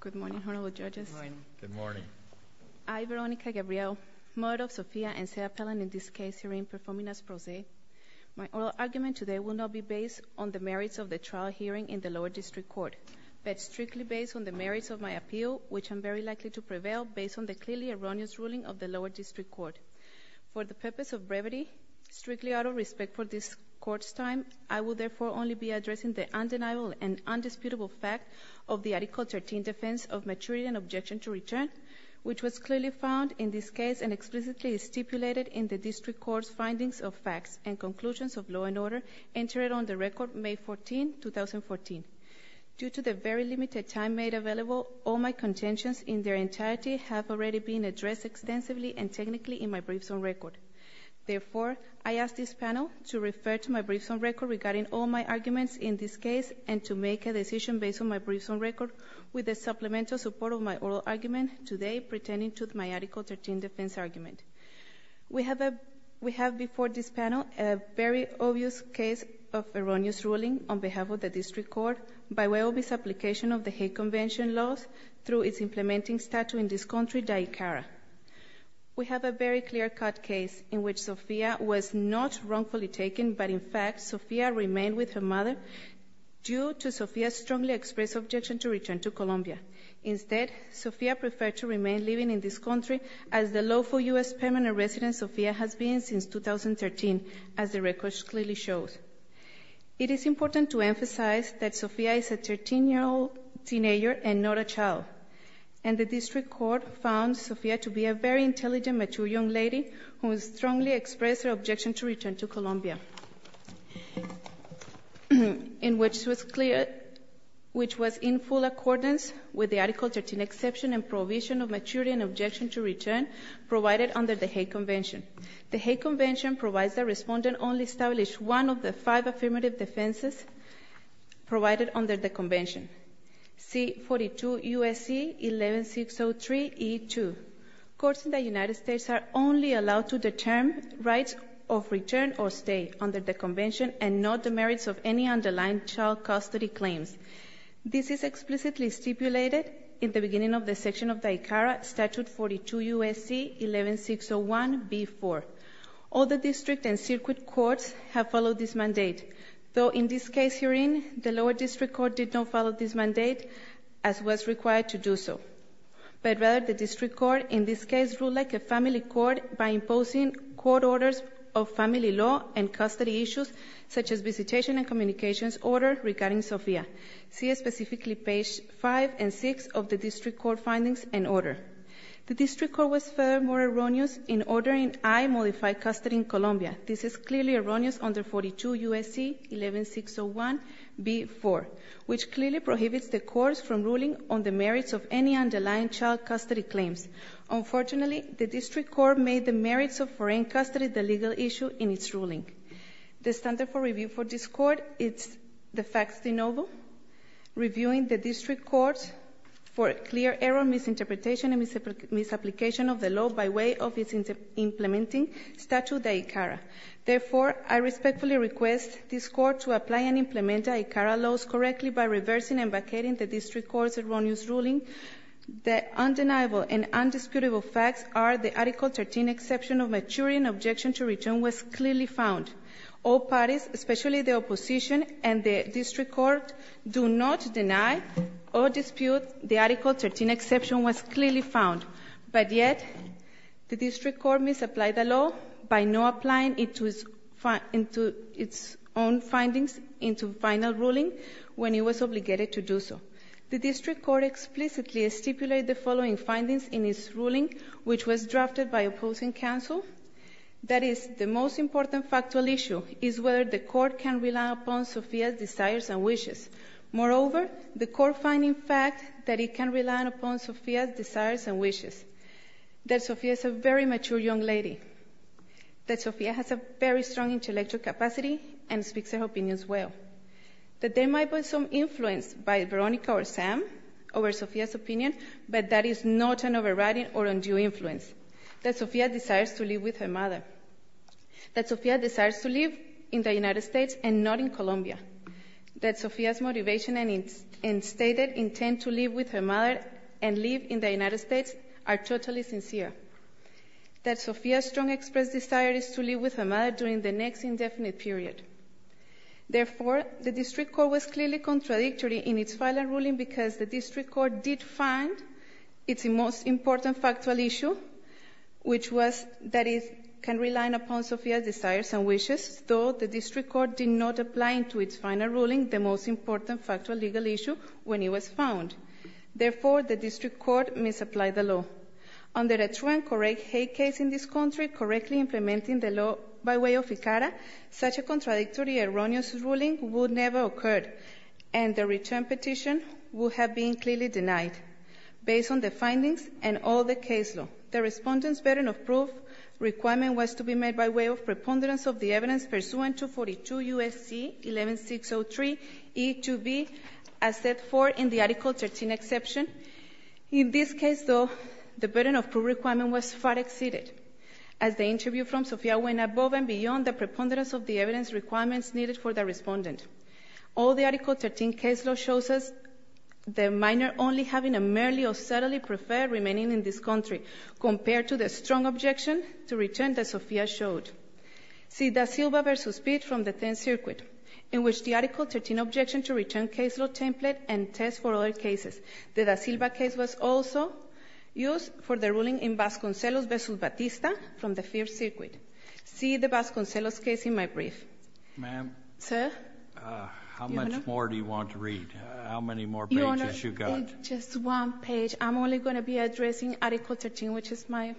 Good morning, Honorable Judges. Good morning. Good morning. I, Veronica Gabriel, mother of Sophia and Sarah Pellen, in this case hearing, performing as pro se, my oral argument today will not be based on the merits of the trial hearing in the lower district court, but strictly based on the merits of my appeal, which I am very likely to prevail, based on the clearly erroneous ruling of the lower district court. For the purpose of brevity, strictly out of respect for this court's time, I will therefore only be addressing the undeniable and undisputable fact of the Article 13 defense of maturity and objection to return, which was clearly found in this case and explicitly stipulated in the district court's findings of facts and conclusions of law and order entered on the record May 14, 2014. Due to the very limited time made available, all my contentions in their entirety have already been addressed extensively and technically in my briefs on record. Therefore, I ask this panel to refer to my briefs on record regarding all my arguments in this case and to make a decision based on my briefs on record with the supplemental support of my oral argument today pertaining to my Article 13 defense argument. We have before this panel a very obvious case of erroneous ruling on behalf of the district court by way of its application of the Hague Convention laws through its implementing statute in this country, DICARA. We have a very clear-cut case in which Sofía was not wrongfully taken, but in fact Sofía remained with her mother due to Sofía's strongly expressed objection to return to Colombia. Instead, Sofía preferred to remain living in this country as the lawful U.S. permanent resident Sofía has been since 2013, as the record clearly shows. It is important to emphasize that Sofía is a 13-year-old teenager and not a child, and the district court found Sofía to be a very intelligent, mature young lady who strongly expressed her objection to return to Colombia, which was in full accordance with the Article 13 exception and prohibition of maturity and objection to return provided under the Hague Convention. The Hague Convention provides the respondent only establish one of the five affirmative defenses provided under the convention. C. 42 U.S.C. 11603 E.2. Courts in the United States are only allowed to determine rights of return or stay under the convention and not the merits of any underlying child custody claims. This is explicitly stipulated in the beginning of the section of DICARA, Statute 42 U.S.C. 11601 B.4. All the district and circuit courts have followed this mandate, though in this case herein, the lower district court did not follow this mandate as was required to do so. But rather, the district court in this case ruled like a family court by imposing court orders of family law and custody issues such as visitation and communications order regarding Sofía. See specifically page 5 and 6 of the district court findings and order. The district court was furthermore erroneous in ordering I modify custody in Colombia. This is clearly erroneous under 42 U.S.C. 11601 B.4, which clearly prohibits the courts from ruling on the merits of any underlying child custody claims. Unfortunately, the district court made the merits of foreign custody the legal issue in its ruling. The standard for review for this Court is the facts de novo, reviewing the district court for clear error, misinterpretation and misapplication of the law by way of its implementing statute, the ICARA. Therefore, I respectfully request this Court to apply and implement the ICARA laws correctly by reversing and vacating the district court's erroneous ruling. The undeniable and undisputable facts are the Article 13 exception of maturing objection to return was clearly found. All parties, especially the opposition and the district court, do not deny or dispute the Article 13 exception was clearly found. But yet, the district court misapplied the law by not applying it to its own findings in the final ruling when it was obligated to do so. The district court explicitly stipulated the following findings in its ruling, which was drafted by opposing counsel. That is, the most important factual issue is whether the court can rely upon Sofia's desires and wishes. Moreover, the court finds, in fact, that it can rely upon Sofia's desires and wishes, that Sofia is a very mature young lady, that Sofia has a very strong intellectual capacity and speaks her opinions well, that there might be some influence by Veronica or Sam over Sofia's opinion, but that is not an overriding or undue influence, that Sofia desires to live with her mother, that Sofia desires to live in the United States or Colombia, that Sofia's motivation and stated intent to live with her mother and live in the United States are totally sincere, that Sofia's strong expressed desire is to live with her mother during the next indefinite period. Therefore, the district court was clearly contradictory in its final ruling because the district court did find its most important factual issue, which was that it can rely upon Sofia's desires and wishes, though the district court did not apply into its final ruling the most important factual legal issue when it was found. Therefore, the district court misapplied the law. Under a true and correct hate case in this country, correctly implementing the law by way of ICARA, such a contradictory, erroneous ruling would never occur, and the return petition would have been clearly denied based on the findings and all the case law. The Respondent's burden of proof requirement was to be made by way of preponderance of the evidence pursuant to 42 U.S.C. 11603E2B, as set forth in the Article 13 exception. In this case, though, the burden of proof requirement was far exceeded, as the interview from Sofia went above and beyond the preponderance of the evidence requirements needed for the Respondent. All the Article 13 case law shows us the minor only having a merely or subtly preferred remaining in this country compared to the strong objection to return that Sofia showed. See Da Silva v. Pitt from the 10th Circuit, in which the Article 13 objection to return case law template and test for other cases. The Da Silva case was also used for the ruling in Vasconcelos v. Batista from the 5th Circuit. See the Vasconcelos case in my brief. Sotomayor, how much more do you want to read? How many more pages you got? Just one page. I'm only going to be addressing Article 13, which is my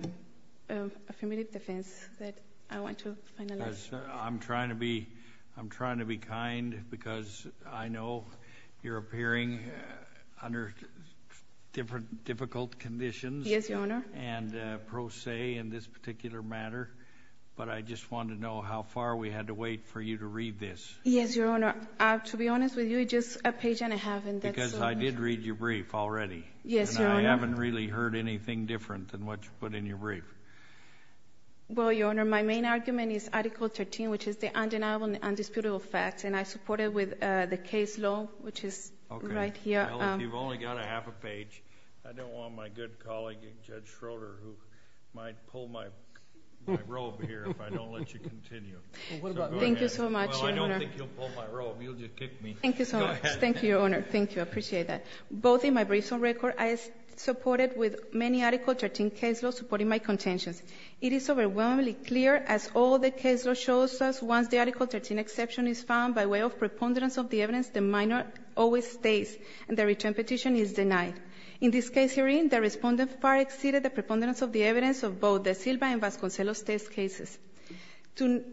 affirmative defense that I want to finalize. I'm trying to be kind because I know you're appearing under difficult conditions. Yes, Your Honor. And pro se in this particular matter, but I just want to know how far we had to wait for you to read this. Yes, Your Honor. To be honest with you, just a page and a half. Because I did read your brief already. Yes, Your Honor. And I haven't really heard anything different than what you put in your brief. Well, Your Honor, my main argument is Article 13, which is the undeniable and indisputable facts, and I support it with the case law, which is right here. Okay. Well, if you've only got a half a page, I don't want my good colleague, Judge Schroeder, who might pull my robe here if I don't let you continue. Thank you so much, Your Honor. Well, I don't think you'll pull my robe. You'll just kick me. Thank you so much. Go ahead. Thank you, Your Honor. Thank you. I appreciate that. Both in my briefs and record, I support it with many Article 13 case laws supporting my contentions. It is overwhelmingly clear, as all the case law shows us, once the Article 13 exception is found by way of preponderance of the evidence, the minor always stays and the return petition is denied. In this case hearing, the Respondent far exceeded the preponderance of the evidence of both the Silva and Vasconcelos test cases. To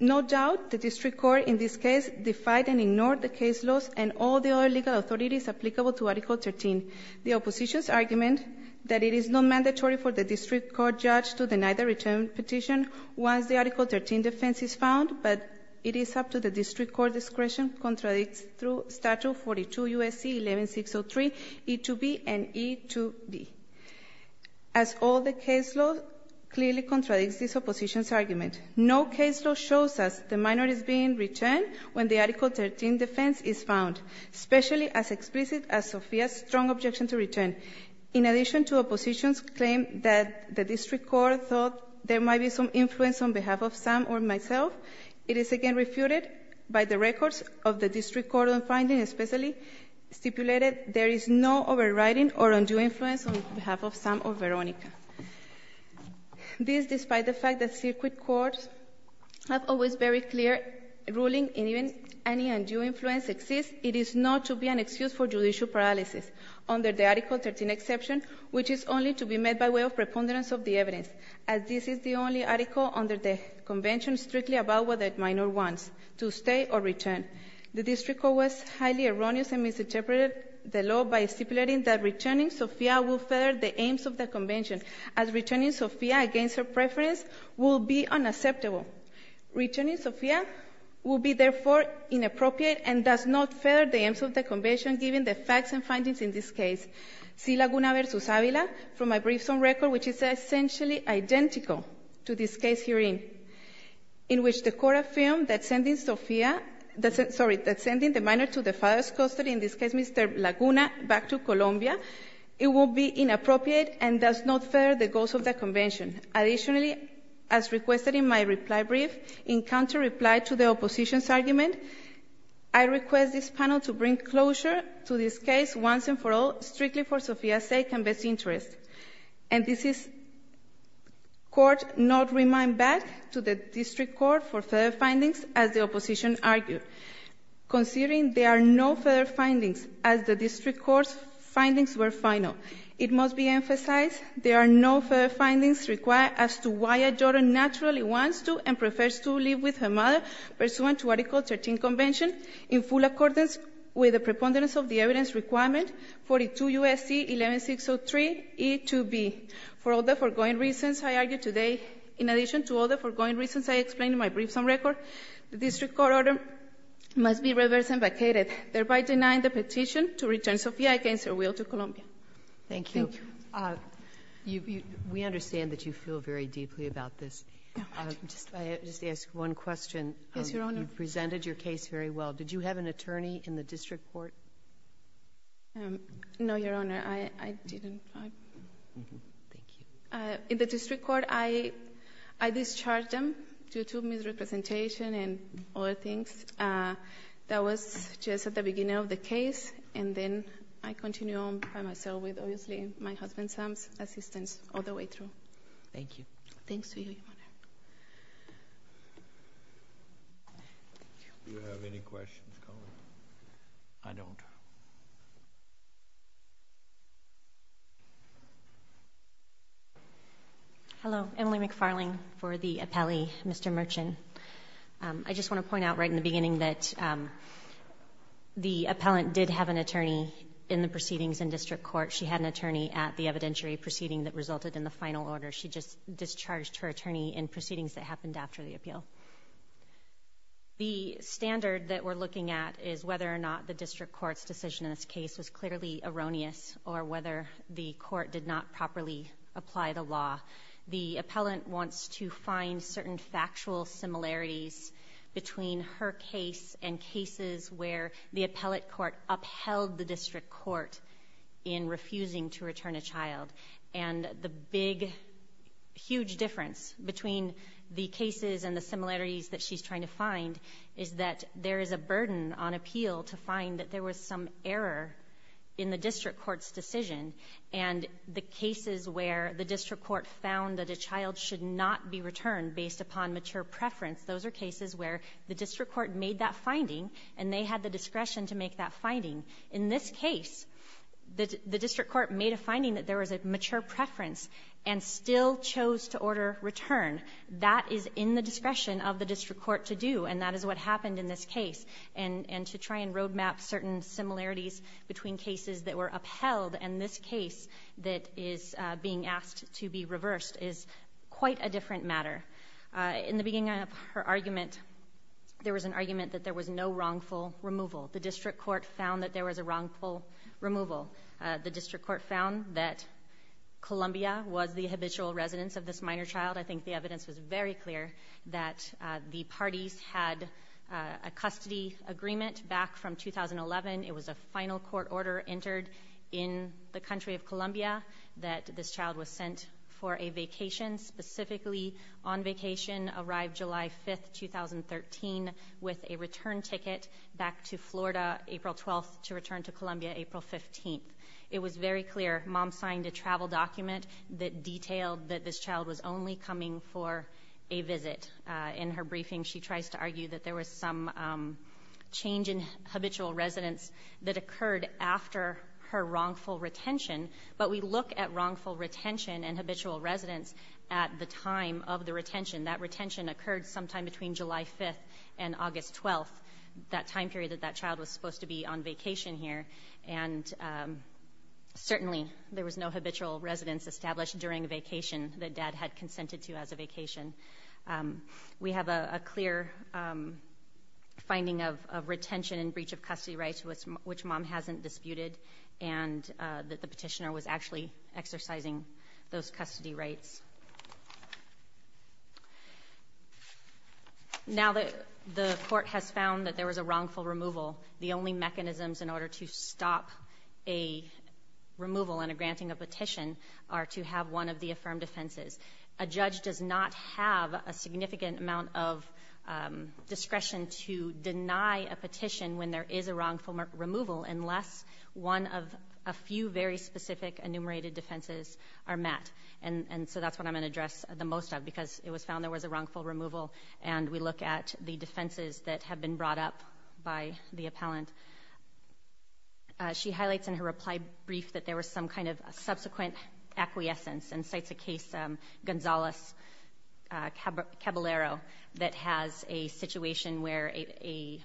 no doubt, the district court in this case defied and ignored the case laws and all the other legal authorities applicable to Article 13. The opposition's argument that it is not mandatory for the district court judge to deny the return petition once the Article 13 defense is found, but it is up to the district court discretion, contradicts through Statute 42 U.S.C. 11603 E2B and E2B. As all the case law clearly contradicts this opposition's argument, no case law shows us the minor is being returned when the Article 13 defense is found, especially as explicit as Sofia's strong objection to return. In addition to opposition's claim that the district court thought there might be some influence on behalf of Sam or myself, it is again refuted by the records of the district court on finding, especially stipulated there is no overriding or undue influence on behalf of Sam or Veronica. This, despite the fact that circuit courts have always very clear ruling in even any undue influence exists, it is not to be an excuse for judicial paralysis under the Article 13 exception, which is only to be met by way of preponderance of the evidence, as this is the only article under the Convention strictly about the minor wants to stay or return. The district court was highly erroneous and misinterpreted the law by stipulating that returning Sofia will further the aims of the Convention, as returning Sofia against her preference will be unacceptable. Returning Sofia will be, therefore, inappropriate and does not further the aims of the Convention, given the facts and findings in this case. Sillaguna v. Avila, from my briefs on record, which is essentially identical to this case herein, in which the Court affirmed that sending Sofia, sorry, that sending the minor to the father's custody, in this case Mr. Laguna, back to Colombia, it will be inappropriate and does not further the goals of the Convention. Additionally, as requested in my reply brief, in counter-reply to the opposition's argument, I request this panel to bring closure to this case once and for all, strictly for Sofia's sake and best interest. And this is court not remind back to the district court for further findings, as the opposition argued. Considering there are no further findings, as the district court's findings were final, it must be emphasized there are no further findings required as to why a daughter naturally wants to and prefers to live with her mother pursuant to Article 13 Convention in full accordance with the preponderance of the evidence requirement 42 U.S.C. 11603e to b. For all the foregoing reasons I argue today, in addition to all the foregoing reasons I explained in my briefs on record, the district court order must be reversed and vacated, thereby denying the petition to return Sofia against her will to Colombia. Thank you. We understand that you feel very deeply about this. I just ask one question. Yes, Your Honor. You presented your case very well. Did you have an attorney in the district court? No, Your Honor. I didn't. Thank you. In the district court, I discharged them due to misrepresentation and other things. That was just at the beginning of the case, and then I continue on by myself with obviously my husband Sam's assistance all the way through. Thank you. Thanks to you, Your Honor. Do you have any questions, Cohen? I don't. Hello. Emily McFarling for the appellee, Mr. Merchan. I just want to point out right in the beginning that the appellant did have an attorney in the proceedings in district court. She had an attorney at the evidentiary proceeding that resulted in the final order. She just discharged her attorney in proceedings that happened after the appeal. The standard that we're looking at is whether or not the district court's decision in this case was clearly erroneous or whether the court did not properly apply the law. The appellant wants to find certain factual similarities between her case and cases where the appellate court upheld the district court in refusing to return a child. And the big, huge difference between the cases and the similarities that she's trying to find is that there is a burden on appeal to find that there was some error in the district court's decision. And the cases where the district court found that a child should not be returned based upon mature preference, those are cases where the district court made that finding and they had the discretion to make that finding. In this case, the district court made a finding that there was a mature preference and still chose to order return. That is in the discretion of the district court to do. And that is what happened in this case. And to try and road map certain similarities between cases that were upheld and this case that is being asked to be reversed is quite a different matter. In the beginning of her argument, there was an argument that there was no wrongful removal. The district court found that there was a wrongful removal. The district court found that Columbia was the habitual residence of this minor child. I think the evidence was very clear that the parties had a custody agreement back from 2011. It was a final court order entered in the country of Columbia that this child was sent for a vacation, specifically on vacation, arrived July 5, 2013, with a return ticket back to Florida April 12 to return to Columbia April 15. It was very clear. Mom signed a travel document that detailed that this child was only coming for a visit. In her briefing, she tries to argue that there was some change in habitual residence that occurred after her wrongful retention. But we look at wrongful retention and habitual residence at the time of the retention. That retention occurred sometime between July 5 and August 12, that time period that that child was supposed to be on vacation here. And certainly there was no habitual residence established during a vacation that dad had consented to as a vacation. We have a clear finding of retention and breach of custody rights, which mom hasn't disputed, and that the petitioner was actually exercising those custody rights. Now, the Court has found that there was a wrongful removal. The only mechanisms in order to stop a removal and a granting a petition are to have one of the affirmed offenses. A judge does not have a significant amount of discretion to deny a petition when there is a wrongful removal unless one of a few very specific enumerated defenses are met. And so that's what I'm going to address the most of, because it was found there was a wrongful removal. And we look at the defenses that have been brought up by the appellant. She highlights in her reply brief that there was some kind of subsequent acquiescence and cites a case, Gonzales-Caballero, that has a situation where the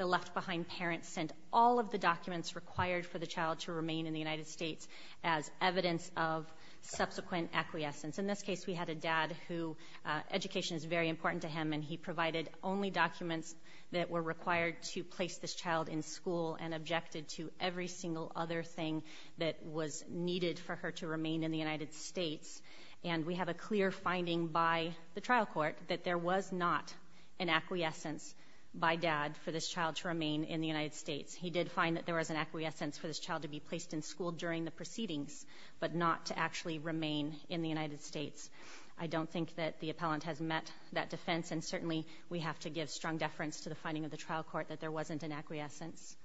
left-behind parent sent all of the documents required for the child to remain in the United States as evidence of subsequent acquiescence. In this case, we had a dad who education is very important to him, and he provided only documents that were required to place this child in school and objected to every single other thing that was needed for her to remain in the United States. And we have a clear finding by the trial court that there was not an acquiescence by dad for this child to remain in the United States. He did find that there was an acquiescence for this child to be placed in school during the proceedings, but not to actually remain in the United States. I don't think that the appellant has met that defense, and certainly we have to give strong deference to the finding of the trial court that there wasn't an acquiescence.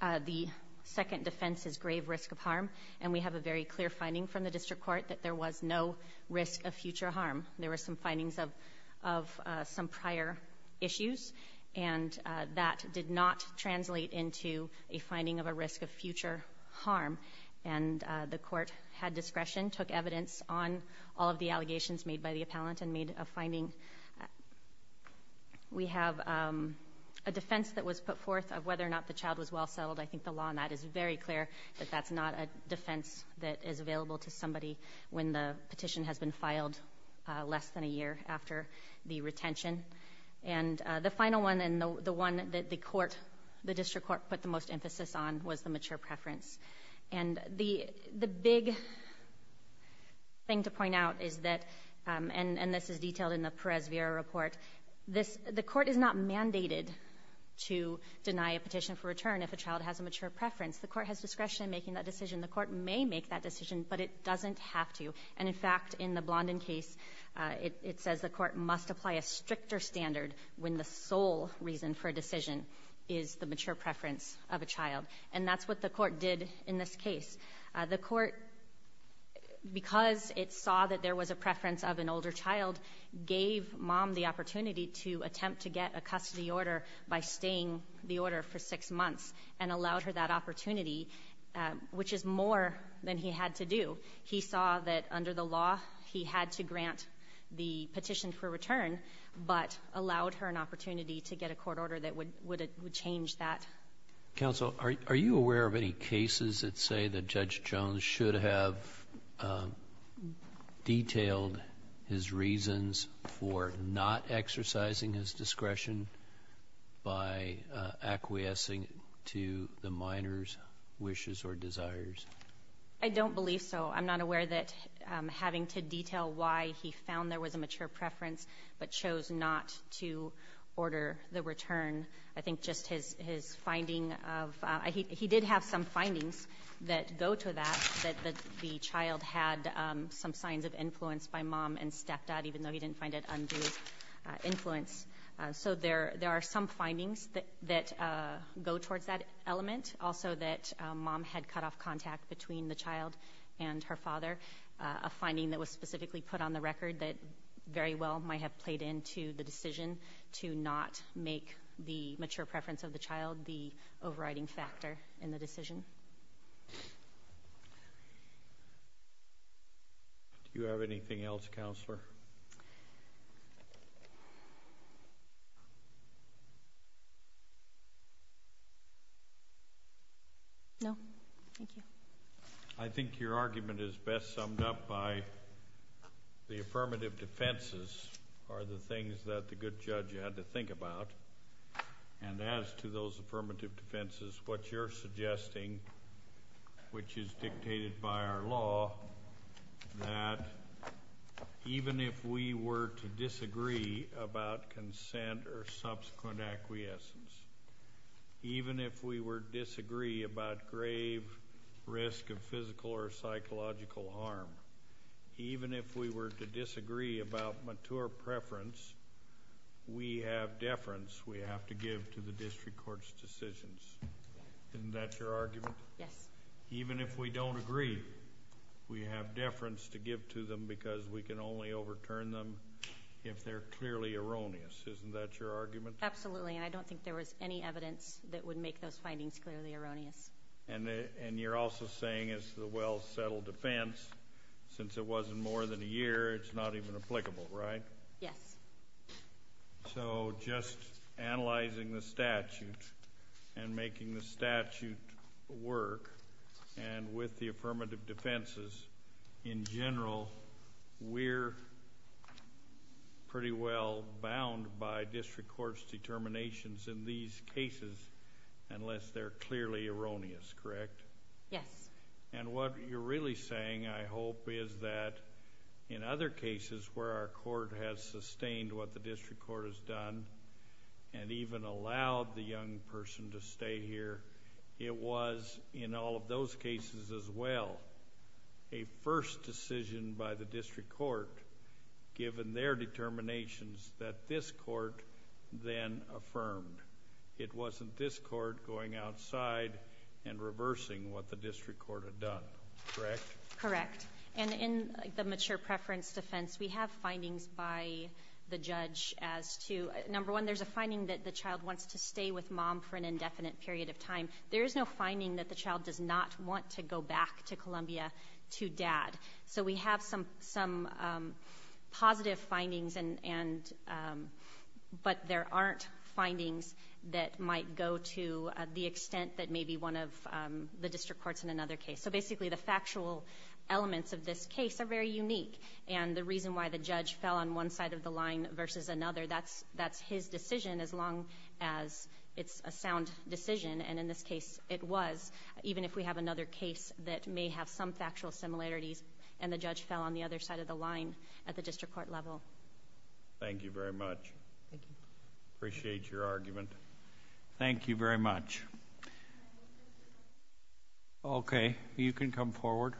The second defense is grave risk of harm, and we have a very clear finding from the district court that there was no risk of future harm. There were some findings of some prior issues, and that did not translate into a finding of a risk of future harm. And the court had discretion, took evidence on all of the allegations made by the appellant, and made a finding. We have a defense that was put forth of whether or not the child was well settled. I think the law on that is very clear that that's not a defense that is available to less than a year after the retention. And the final one, and the one that the court, the district court, put the most emphasis on was the mature preference. And the big thing to point out is that, and this is detailed in the Perez-Vera report, the court is not mandated to deny a petition for return if a child has a mature preference. The court has discretion in making that decision. The court may make that decision, but it doesn't have to. And, in fact, in the Blondin case, it says the court must apply a stricter standard when the sole reason for a decision is the mature preference of a child. And that's what the court did in this case. The court, because it saw that there was a preference of an older child, gave Mom the opportunity to attempt to get a custody order by staying the order for six months and allowed her that opportunity, which is more than he had to do. He saw that, under the law, he had to grant the petition for return, but allowed her an opportunity to get a court order that would change that. Counsel, are you aware of any cases that say that Judge Jones should have detailed his reasons for not exercising his discretion by acquiescing to the minor's wishes or desires? I don't believe so. I'm not aware that having to detail why he found there was a mature preference but chose not to order the return. I think just his finding of – he did have some findings that go to that, that the child had some signs of influence by Mom and stepped out, even though he didn't find it undue influence. So there are some findings that go towards that element. Also that Mom had cut off contact between the child and her father, a finding that was specifically put on the record that very well might have played into the decision to not make the mature preference of the child the overriding factor in the decision. Do you have anything else, Counselor? No. Thank you. I think your argument is best summed up by the affirmative defenses are the things that the good judge had to think about. And as to those affirmative defenses, what you're suggesting, which is dictated by our law, that even if we were to disagree about consent or subsequent acquiescence, even if we were to disagree about grave risk of physical or psychological harm, even if we were to disagree about mature preference, we have deference we have to give to the district court's decisions. Isn't that your argument? Yes. Even if we don't agree, we have deference to give to them because we can only overturn them if they're clearly erroneous. Isn't that your argument? Absolutely. And I don't think there was any evidence that would make those findings clearly erroneous. And you're also saying as to the well-settled defense, since it wasn't more than a year, it's not even applicable, right? Yes. So just analyzing the statute and making the statute work and with the affirmative defenses, in general, we're pretty well bound by district court's determinations in these cases unless they're clearly erroneous, correct? Yes. And what you're really saying, I hope, is that in other cases where our court has sustained what the district court has done and even allowed the young person to stay here, it was, in all of those cases as well, a first decision by the district court given their determinations that this court then affirmed. It wasn't this court going outside and reversing what the district court had done, correct? Correct. And in the mature preference defense, we have findings by the judge as to, number one, there's a finding that the child wants to stay with mom for an indefinite period of time. There is no finding that the child does not want to go back to Columbia to dad. So we have some positive findings, but there aren't findings that might go to the extent that maybe one of the district courts in another case. So basically the factual elements of this case are very unique, and the reason why the judge fell on one side of the line versus another, that's his decision as long as it's a sound decision. And in this case, it was, even if we have another case that may have some factual similarities and the judge fell on the other side of the line at the district court level. Thank you very much. Thank you. Appreciate your argument. Thank you very much. Okay. You can come forward.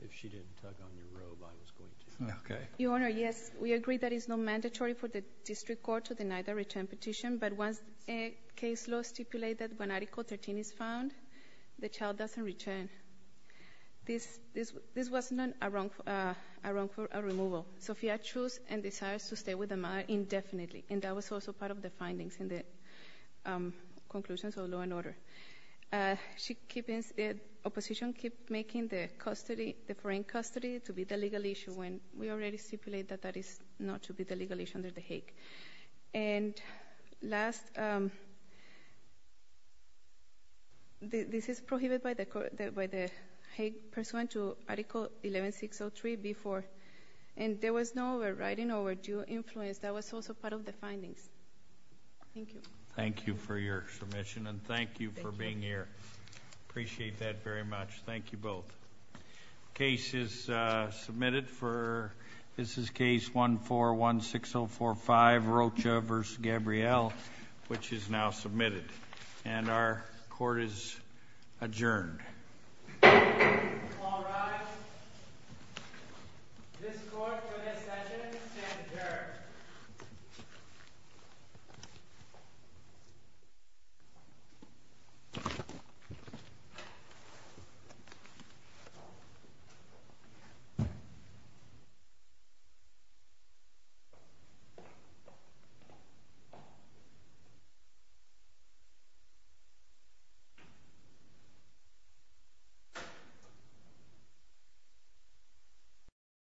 If she didn't tug on your robe, I was going to. Okay. Your Honor, yes, we agree that it's not mandatory for the district court to deny the return petition, but once a case law stipulates that when Article 13 is found, the child doesn't return. This wasn't a wrongful removal. Sophia chose and decides to stay with the mother indefinitely, and that was also part of the findings in the conclusions of law and order. Opposition keep making the foreign custody to be the legal issue when we already stipulate that that is not to be the legal issue under the Hague. And last, this is prohibited by the Hague pursuant to Article 11603B4, and there was no overriding or overdue influence. That was also part of the findings. Thank you. Thank you for your submission, and thank you for being here. Appreciate that very much. Thank you both. Case is submitted for, this is case 1416045, Rocha v. Gabrielle, which is now submitted. And our court is adjourned. All rise. This court for this session stands adjourned. Thank you.